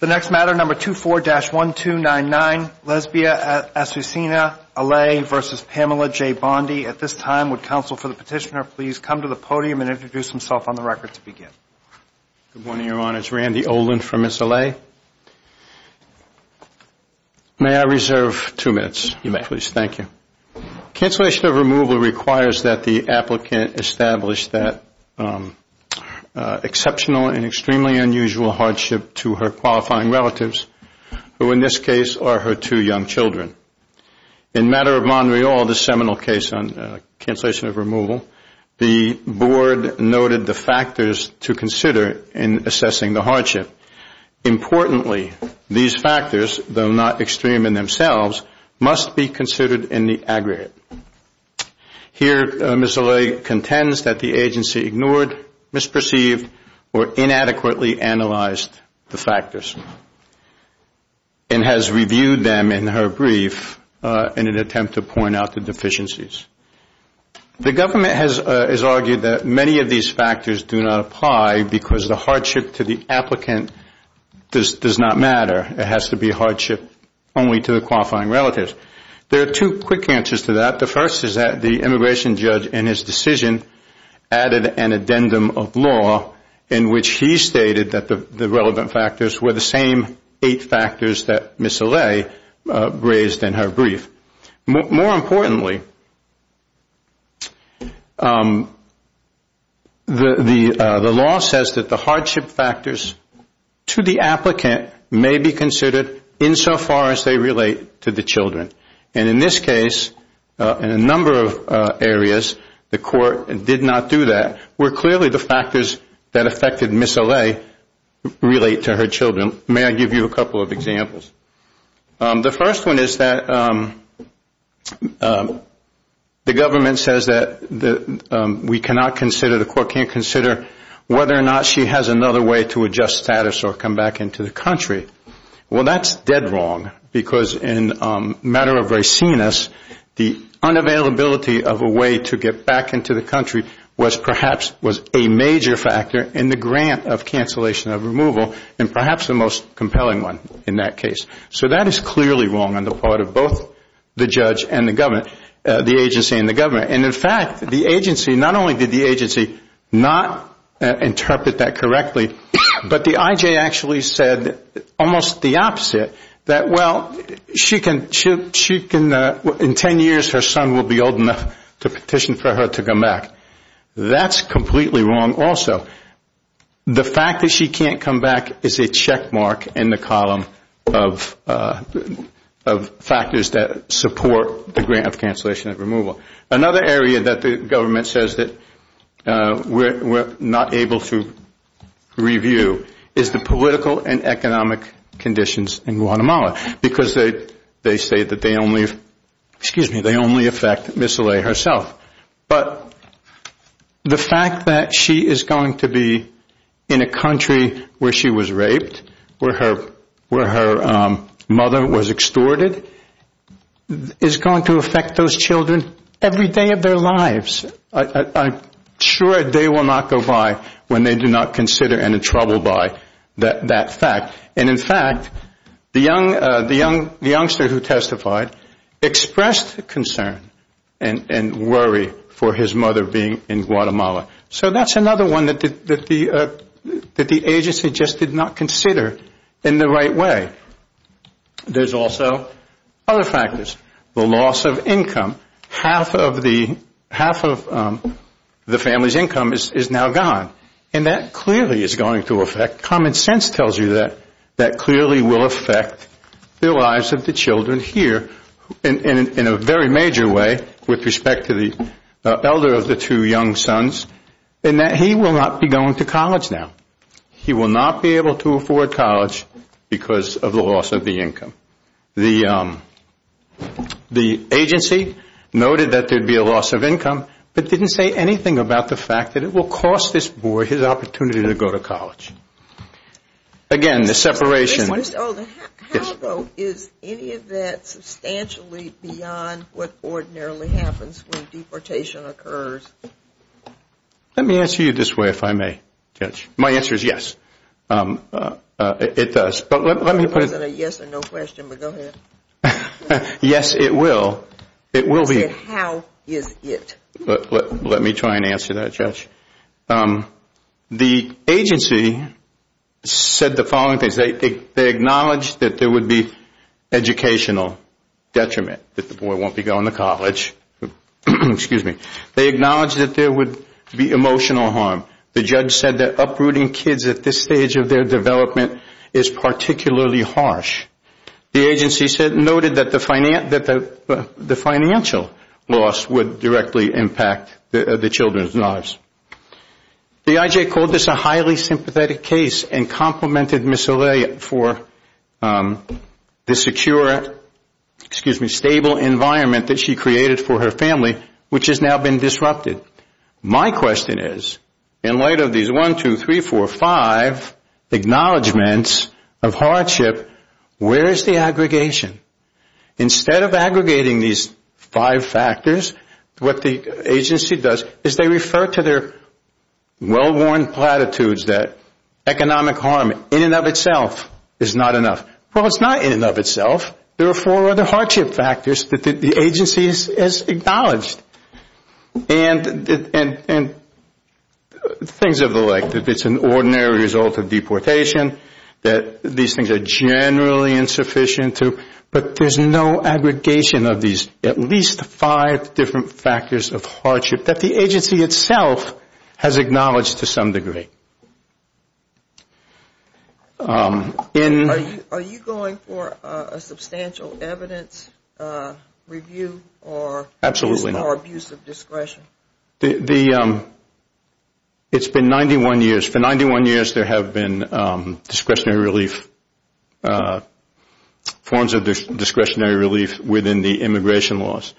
The next matter, number 24-1299, Lesbia Asusina Alay v. Pamela J. Bondi. At this time, would counsel for the petitioner please come to the podium and introduce himself on the record to begin? Good morning, Your Honors. Randy Olin from Miss Alay. May I reserve two minutes, please? Thank you. Cancellation of removal requires that the applicant establish that exceptional and extremely unusual hardship to her qualifying relatives, who in this case are her two young children. In matter of Montreal, the seminal case on cancellation of removal, the board noted the factors to consider in assessing the hardship. Importantly, these factors, though not extreme in themselves, must be considered in the aggregate. Here, Miss Alay contends that the agency ignored, misperceived, or inadequately analyzed the factors and has reviewed them in her brief in an attempt to point out the deficiencies. The government has argued that many of these factors do not apply because the hardship to the applicant does not matter. It has to be hardship only to the qualifying relatives. There are two quick answers to that. The first is that the immigration judge in his decision added an addendum of law in which he stated that the relevant factors were the same eight factors that Miss Alay raised in her brief. More importantly, the law says that the hardship factors to the applicant may be considered insofar as they relate to the children. And in this case, in a number of areas, the court did not do that, where clearly the factors that affected Miss Alay relate to her children. May I give you a couple of examples? The first one is that the government says that we cannot consider, the court can't consider whether or not she has another way to adjust status or come back into the country. Well, that's dead wrong because in a matter of raciness, the unavailability of a way to get back into the country was perhaps a major factor in the grant of cancellation of removal and perhaps the most compelling one in that case. So that is clearly wrong on the part of both the judge and the government, the agency and the government. And, in fact, the agency, not only did the agency not interpret that correctly, but the IJ actually said almost the opposite, that, well, in ten years her son will be old enough to petition for her to come back. That's completely wrong also. The fact that she can't come back is a checkmark in the column of factors that support the grant of cancellation of removal. Another area that the government says that we're not able to review is the political and economic conditions in Guatemala because they say that they only affect Ms. Olay herself. But the fact that she is going to be in a country where she was raped, where her mother was extorted, is going to affect those children every day of their lives. I'm sure a day will not go by when they do not consider and are troubled by that fact. And, in fact, the youngster who testified expressed concern and worry for his mother being in Guatemala. So that's another one that the agency just did not consider in the right way. There's also other factors, the loss of income. Half of the family's income is now gone. And that clearly is going to affect, common sense tells you that, that clearly will affect the lives of the children here in a very major way with respect to the elder of the two young sons in that he will not be going to college now. He will not be able to afford college because of the loss of the income. The agency noted that there would be a loss of income, but didn't say anything about the fact that it will cost this boy his opportunity to go to college. Again, the separation. How, though, is any of that substantially beyond what ordinarily happens when deportation occurs? Let me answer you this way, if I may, Judge. My answer is yes, it does. It wasn't a yes or no question, but go ahead. Yes, it will. How is it? Let me try and answer that, Judge. The agency said the following things. They acknowledged that there would be educational detriment, that the boy won't be going to college. Excuse me. They acknowledged that there would be emotional harm. The judge said that uprooting kids at this stage of their development is particularly harsh. The agency noted that the financial loss would directly impact the children's lives. The IJ called this a highly sympathetic case and complimented Ms. O'Leary for the secure, excuse me, stable environment that she created for her family, which has now been disrupted. My question is, in light of these one, two, three, four, five acknowledgements of hardship, where is the aggregation? Instead of aggregating these five factors, what the agency does is they refer to their well-worn platitudes that economic harm in and of itself is not enough. Well, it's not in and of itself. There are four other hardship factors that the agency has acknowledged. And things of the like. It's an ordinary result of deportation that these things are generally insufficient to, but there's no aggregation of these at least five different factors of hardship that the agency itself has acknowledged to some degree. Are you going for a substantial evidence review or abuse of discretion? It's been 91 years. For 91 years there have been discretionary relief, forms of discretionary relief within the immigration laws.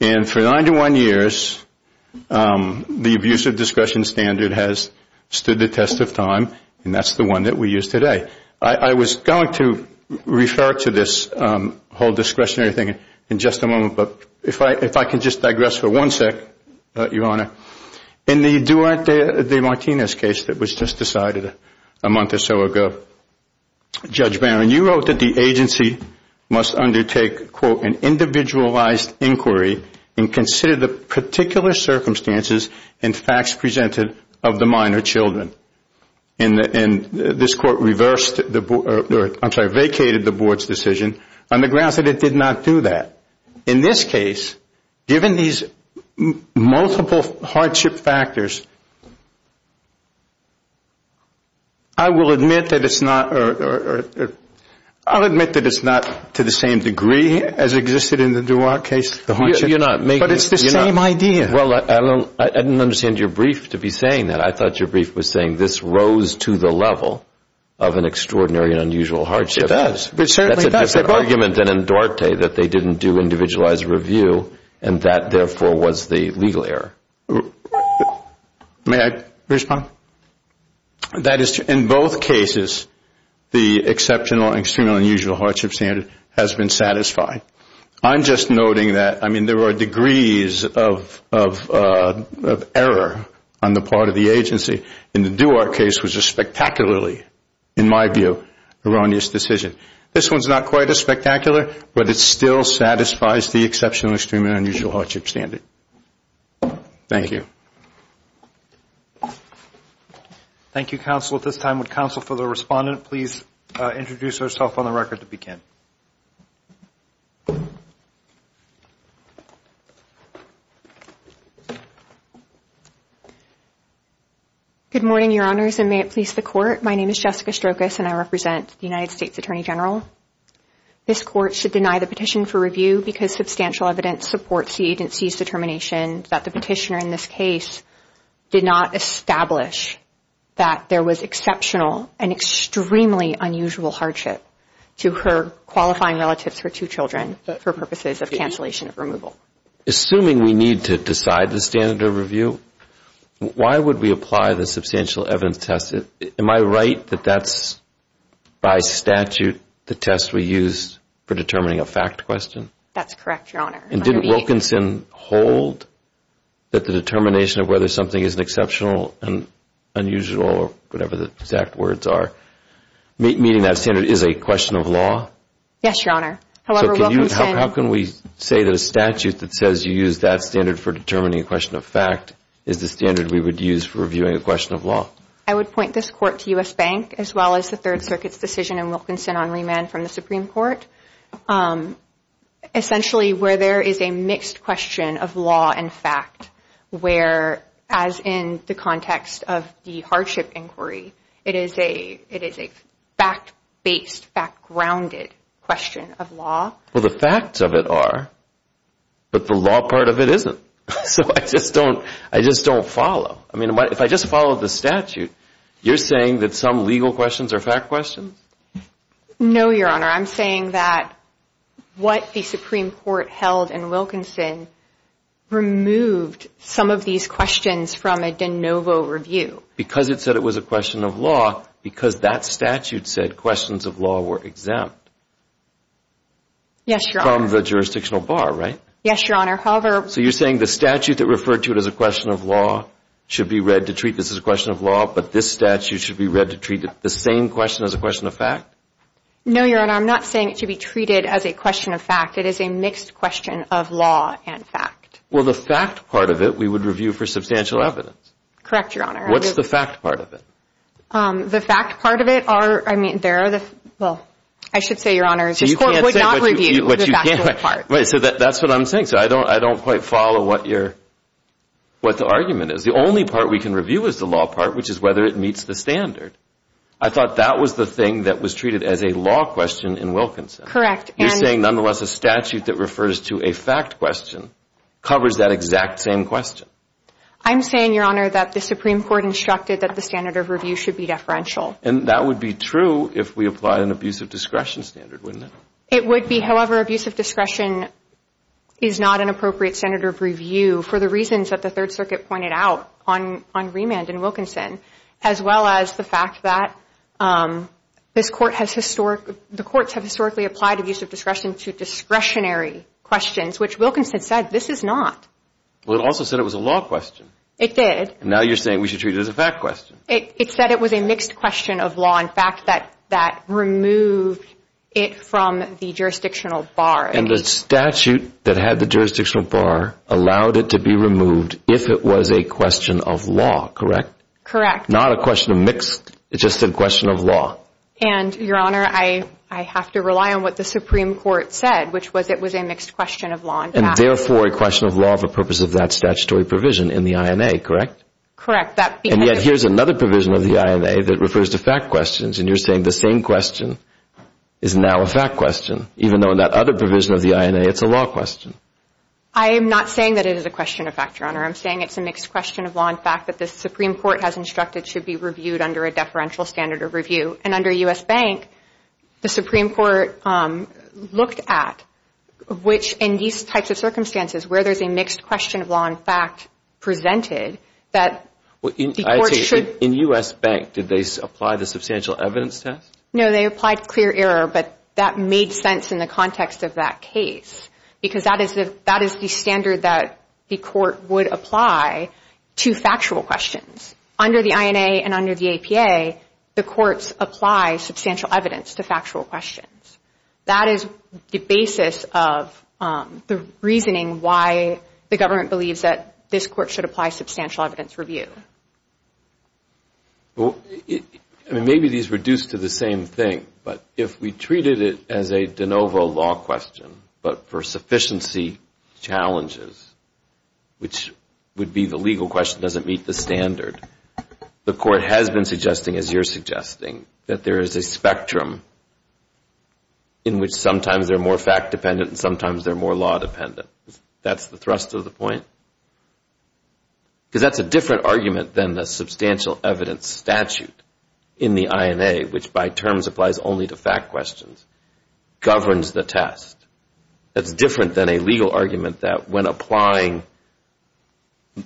And for 91 years the abuse of discretion standard has stood the test of time, and that's the one that we use today. I was going to refer to this whole discretionary thing in just a moment, but if I could just digress for one sec, Your Honor. In the Duarte de Martinez case that was just decided a month or so ago, Judge Barron, you wrote that the agency must undertake, quote, an individualized inquiry and consider the particular circumstances and facts presented of the minor children. And this court vacated the board's decision on the grounds that it did not do that. In this case, given these multiple hardship factors, I will admit that it's not, to the same degree as existed in the Duarte case, the hardship, but it's the same idea. Well, I didn't understand your brief to be saying that. I thought your brief was saying this rose to the level of an extraordinary and unusual hardship. It does. That's an argument in Duarte that they didn't do individualized review, and that, therefore, was the legal error. May I respond? That is, in both cases, the exceptional and extremely unusual hardship standard has been satisfied. I'm just noting that, I mean, there are degrees of error on the part of the agency. In the Duarte case was a spectacularly, in my view, erroneous decision. This one's not quite as spectacular, but it still satisfies the exceptional, extreme and unusual hardship standard. Thank you. Thank you, Counsel. At this time, would Counsel for the Respondent please introduce herself on the record to begin? Good morning, Your Honors, and may it please the Court. My name is Jessica Strokos, and I represent the United States Attorney General. This Court should deny the petition for review because substantial evidence supports the agency's determination that the petitioner in this case did not establish that there was exceptional and extremely unusual hardship to her qualifying relatives for two children for purposes of cancellation of removal. Assuming we need to decide the standard of review, why would we apply the substantial evidence test? Am I right that that's, by statute, the test we use for determining a fact question? That's correct, Your Honor. And didn't Wilkinson hold that the determination of whether something is exceptional and unusual or whatever the exact words are, meaning that standard is a question of law? Yes, Your Honor. However, Wilkinson How can we say that a statute that says you use that standard for determining a question of fact is the standard we would use for reviewing a question of law? I would point this Court to U.S. Bank as well as the Third Circuit's decision in Wilkinson on remand from the Supreme Court. Essentially, where there is a mixed question of law and fact, where, as in the context of the hardship inquiry, it is a fact-based, fact-grounded question of law. Well, the facts of it are, but the law part of it isn't. So I just don't follow. I mean, if I just followed the statute, you're saying that some legal questions are fact questions? No, Your Honor. I'm saying that what the Supreme Court held in Wilkinson removed some of these questions from a de novo review. Because it said it was a question of law, because that statute said questions of law were exempt. Yes, Your Honor. So you're saying the statute that referred to it as a question of law should be read to treat this as a question of law, but this statute should be read to treat the same question as a question of fact? No, Your Honor. I'm not saying it should be treated as a question of fact. It is a mixed question of law and fact. Well, the fact part of it we would review for substantial evidence. Correct, Your Honor. What's the fact part of it? The fact part of it are, I mean, there are the, well, I should say, Your Honor, this Court would not review the fact part. So that's what I'm saying. So I don't quite follow what the argument is. The only part we can review is the law part, which is whether it meets the standard. I thought that was the thing that was treated as a law question in Wilkinson. Correct. You're saying, nonetheless, a statute that refers to a fact question covers that exact same question? I'm saying, Your Honor, that the Supreme Court instructed that the standard of review should be deferential. And that would be true if we applied an abuse of discretion standard, wouldn't it? It would be. However, abuse of discretion is not an appropriate standard of review for the reasons that the Third Circuit pointed out on remand in Wilkinson, as well as the fact that this Court has historically, the courts have historically applied abuse of discretion to discretionary questions, which Wilkinson said this is not. Well, it also said it was a law question. It did. And now you're saying we should treat it as a fact question. It said it was a mixed question of law and fact that removed it from the jurisdictional bar. And the statute that had the jurisdictional bar allowed it to be removed if it was a question of law, correct? Correct. Not a question of mixed. It just said question of law. And, Your Honor, I have to rely on what the Supreme Court said, which was it was a mixed question of law and fact. And therefore a question of law for purpose of that statutory provision in the INA, correct? Correct. And yet here's another provision of the INA that refers to fact questions. And you're saying the same question is now a fact question, even though in that other provision of the INA it's a law question. I am not saying that it is a question of fact, Your Honor. I'm saying it's a mixed question of law and fact that the Supreme Court has instructed should be reviewed under a deferential standard of review. And under U.S. Bank, the Supreme Court looked at which in these types of circumstances where there's a mixed question of law and fact presented that the court should In U.S. Bank, did they apply the substantial evidence test? No, they applied clear error, but that made sense in the context of that case. Because that is the standard that the court would apply to factual questions. Under the INA and under the APA, the courts apply substantial evidence to factual questions. That is the basis of the reasoning why the government believes that this court should apply substantial evidence review. Maybe these reduce to the same thing, but if we treated it as a de novo law question, but for sufficiency challenges, which would be the legal question, does it meet the standard, the court has been suggesting, as you're suggesting, that there is a spectrum in which sometimes they're more fact dependent and sometimes they're more law dependent. That's the thrust of the point? Because that's a different argument than the substantial evidence statute in the INA, which by terms applies only to fact questions, governs the test. That's different than a legal argument that when applying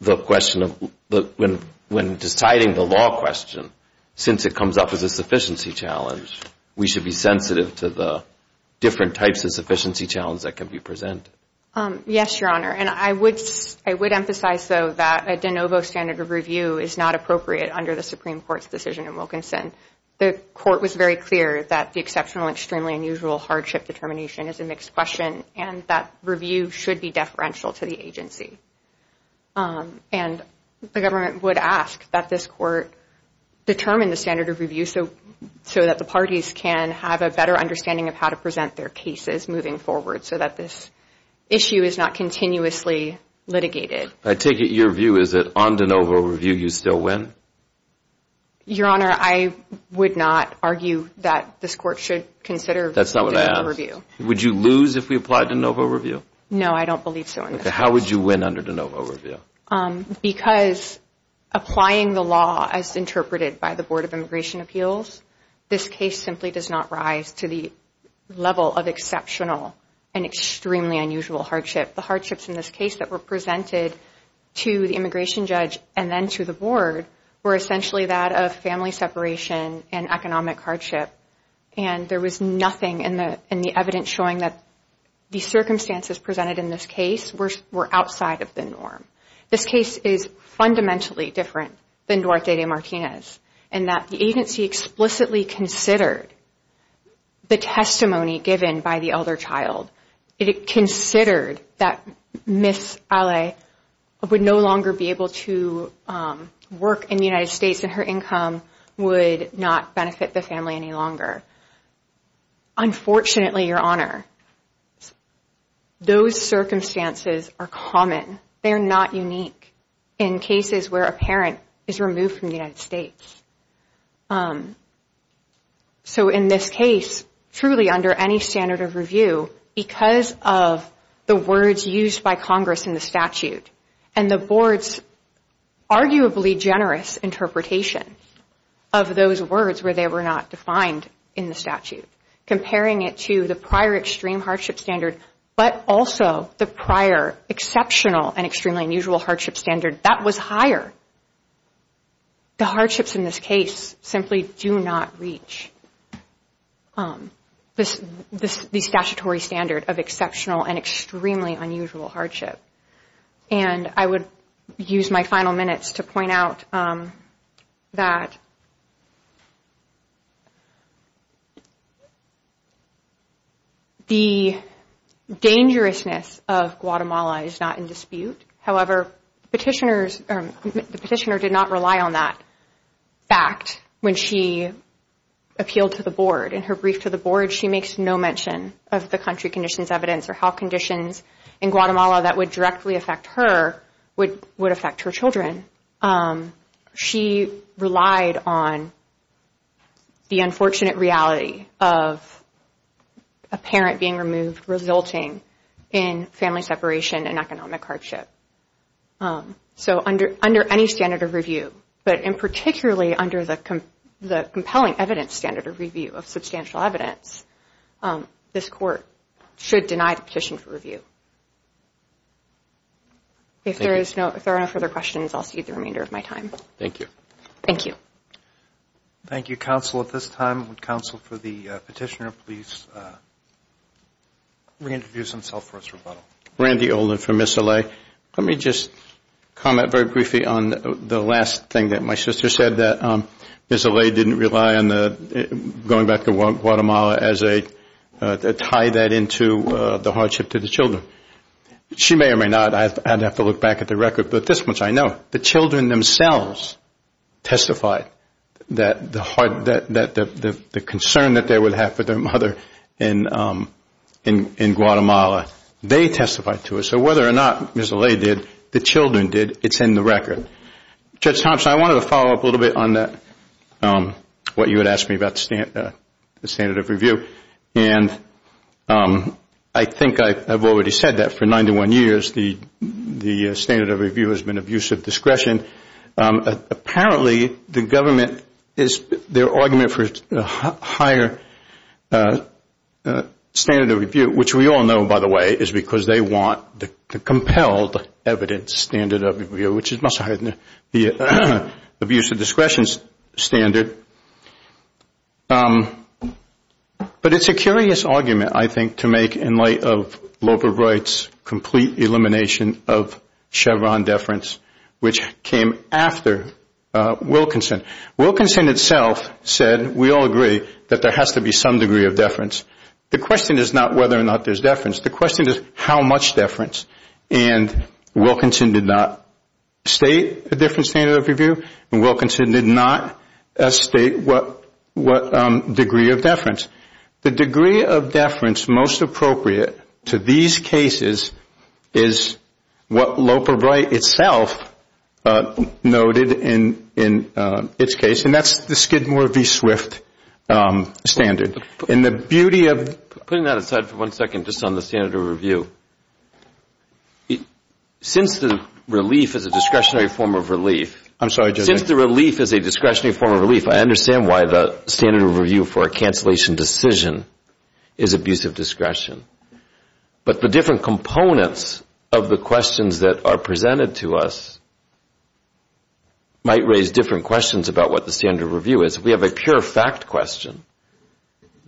the question of, when deciding the law question, since it comes up as a sufficiency challenge, we should be sensitive to the different types of sufficiency challenges that can be presented. Yes, Your Honor, and I would emphasize, though, that a de novo standard of review is not appropriate under the Supreme Court's decision in Wilkinson. The court was very clear that the exceptional, extremely unusual hardship determination is a mixed question and that review should be deferential to the agency. And the government would ask that this court determine the standard of review so that the parties can have a better understanding of how to present their cases moving forward so that this issue is not continuously litigated. I take it your view is that on de novo review you still win? Your Honor, I would not argue that this court should consider de novo review. Would you lose if we applied de novo review? No, I don't believe so. How would you win under de novo review? Because applying the law as interpreted by the Board of Immigration Appeals, this case simply does not rise to the level of exceptional and extremely unusual hardship. The hardships in this case that were presented to the immigration judge and then to the Board were essentially that of family separation and economic hardship. And there was nothing in the evidence showing that the circumstances presented in this case were outside of the norm. This case is fundamentally different than Duarte de Martinez in that the agency explicitly considered the testimony given by the elder child. It considered that Ms. Ale would no longer be able to work in the United States and her income would not benefit the family any longer. Unfortunately, Your Honor, those circumstances are common. They are not unique in cases where a parent is removed from the United States. So in this case, truly under any standard of review, because of the words used by Congress in the statute and the Board's arguably generous interpretation of those words where they were not defined in the statute, comparing it to the prior extreme hardship standard, but also the prior exceptional and extremely unusual hardship standard that was higher the hardships in this case simply do not reach the statutory standard of exceptional and extremely unusual hardship. And I would use my final minutes to point out that the dangerousness of Guatemala is not in dispute. However, the petitioner did not rely on that fact when she appealed to the Board. In her brief to the Board, she makes no mention of the country conditions evidence or how conditions in Guatemala that would directly affect her would affect her children. She relied on the unfortunate reality of a parent being removed resulting in family separation and economic hardship. So under any standard of review, but in particularly under the compelling evidence standard of review of substantial evidence, this Court should deny the petition for review. If there are no further questions, I'll cede the remainder of my time. Thank you. Thank you. Thank you, Counsel. At this time, would Counsel for the Petitioner please reintroduce himself for his rebuttal. Randy Olin from Missoula. Let me just comment very briefly on the last thing that my sister said, that Missoula didn't rely on going back to Guatemala as a tie that into the hardship to the children. She may or may not. I'd have to look back at the record. But this much I know. The children themselves testified that the concern that they would have for their mother in Guatemala, they testified to it. So whether or not Missoula did, the children did, it's in the record. Judge Thompson, I wanted to follow up a little bit on that, what you had asked me about the standard of review. And I think I've already said that for 91 years, the standard of review has been of use of discretion. Apparently the government, their argument for higher standard of review, which we all know, by the way, is because they want the compelled evidence standard of review, which is much higher than the abuse of discretion standard. But it's a curious argument, I think, to make in light of Loper Wright's complete elimination of Chevron deference, which came after Wilkinson. Wilkinson itself said, we all agree, that there has to be some degree of deference. The question is not whether or not there's deference. The question is how much deference. And Wilkinson did not state a different standard of review. And Wilkinson did not state what degree of deference. The degree of deference most appropriate to these cases is what Loper Wright itself noted in its case. And that's the Skidmore v. Swift standard. And the beauty of... Putting that aside for one second just on the standard of review, since the relief is a discretionary form of relief... I'm sorry, Judge. Since the relief is a discretionary form of relief, I understand why the standard of review for a cancellation decision is abuse of discretion. But the different components of the questions that are presented to us might raise different questions about what the standard of review is. If we have a pure fact question,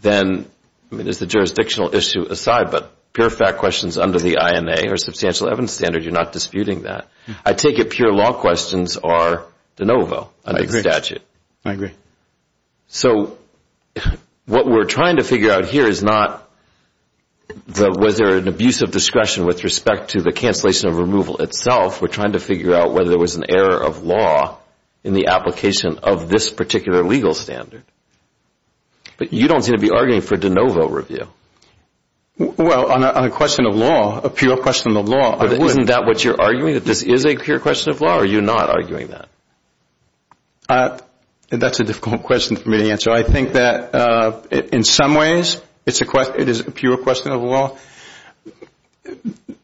then, I mean, as a jurisdictional issue aside, but pure fact questions under the INA or substantial evidence standard, you're not disputing that. I take it pure law questions are de novo under the statute. I agree. So what we're trying to figure out here is not whether an abuse of discretion with respect to the cancellation of removal itself. We're trying to figure out whether there was an error of law in the application of this particular legal standard. But you don't seem to be arguing for de novo review. Well, on a question of law, a pure question of law, I would. But isn't that what you're arguing, that this is a pure question of law, or are you not arguing that? That's a difficult question for me to answer. I think that in some ways it is a pure question of law.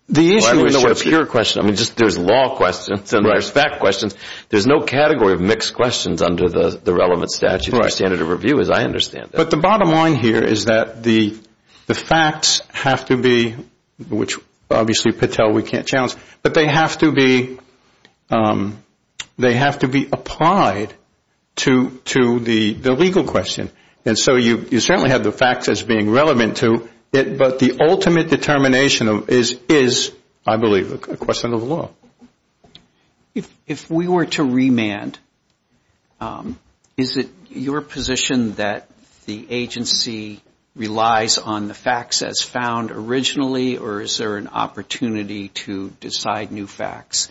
The issue with the word pure question, I mean, there's law questions and there's fact questions. There's no category of mixed questions under the relevant statute or standard of review, as I understand it. But the bottom line here is that the facts have to be, which obviously, Patel, we can't challenge, but they have to be applied to the legal question. And so you certainly have the facts as being relevant to it, but the ultimate determination is, I believe, a question of law. If we were to remand, is it your position that the agency relies on the facts as found originally, or is there an opportunity to decide new facts?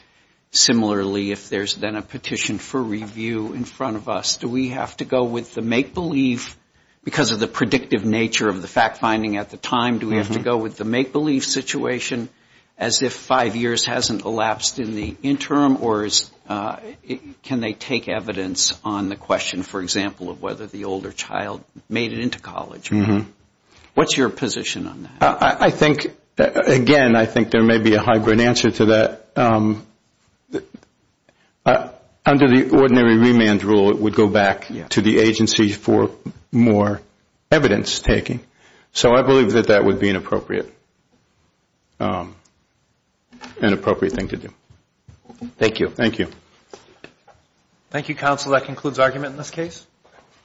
Similarly, if there's then a petition for review in front of us, do we have to go with the make-believe because of the predictive nature of the fact-finding at the time? Do we have to go with the make-believe situation as if five years hasn't elapsed in the interim, or can they take evidence on the question, for example, of whether the older child made it into college? What's your position on that? Again, I think there may be a hybrid answer to that. Under the ordinary remand rule, it would go back to the agency for more evidence-taking. So I believe that that would be an appropriate thing to do. Thank you. Thank you, counsel. That concludes argument in this case.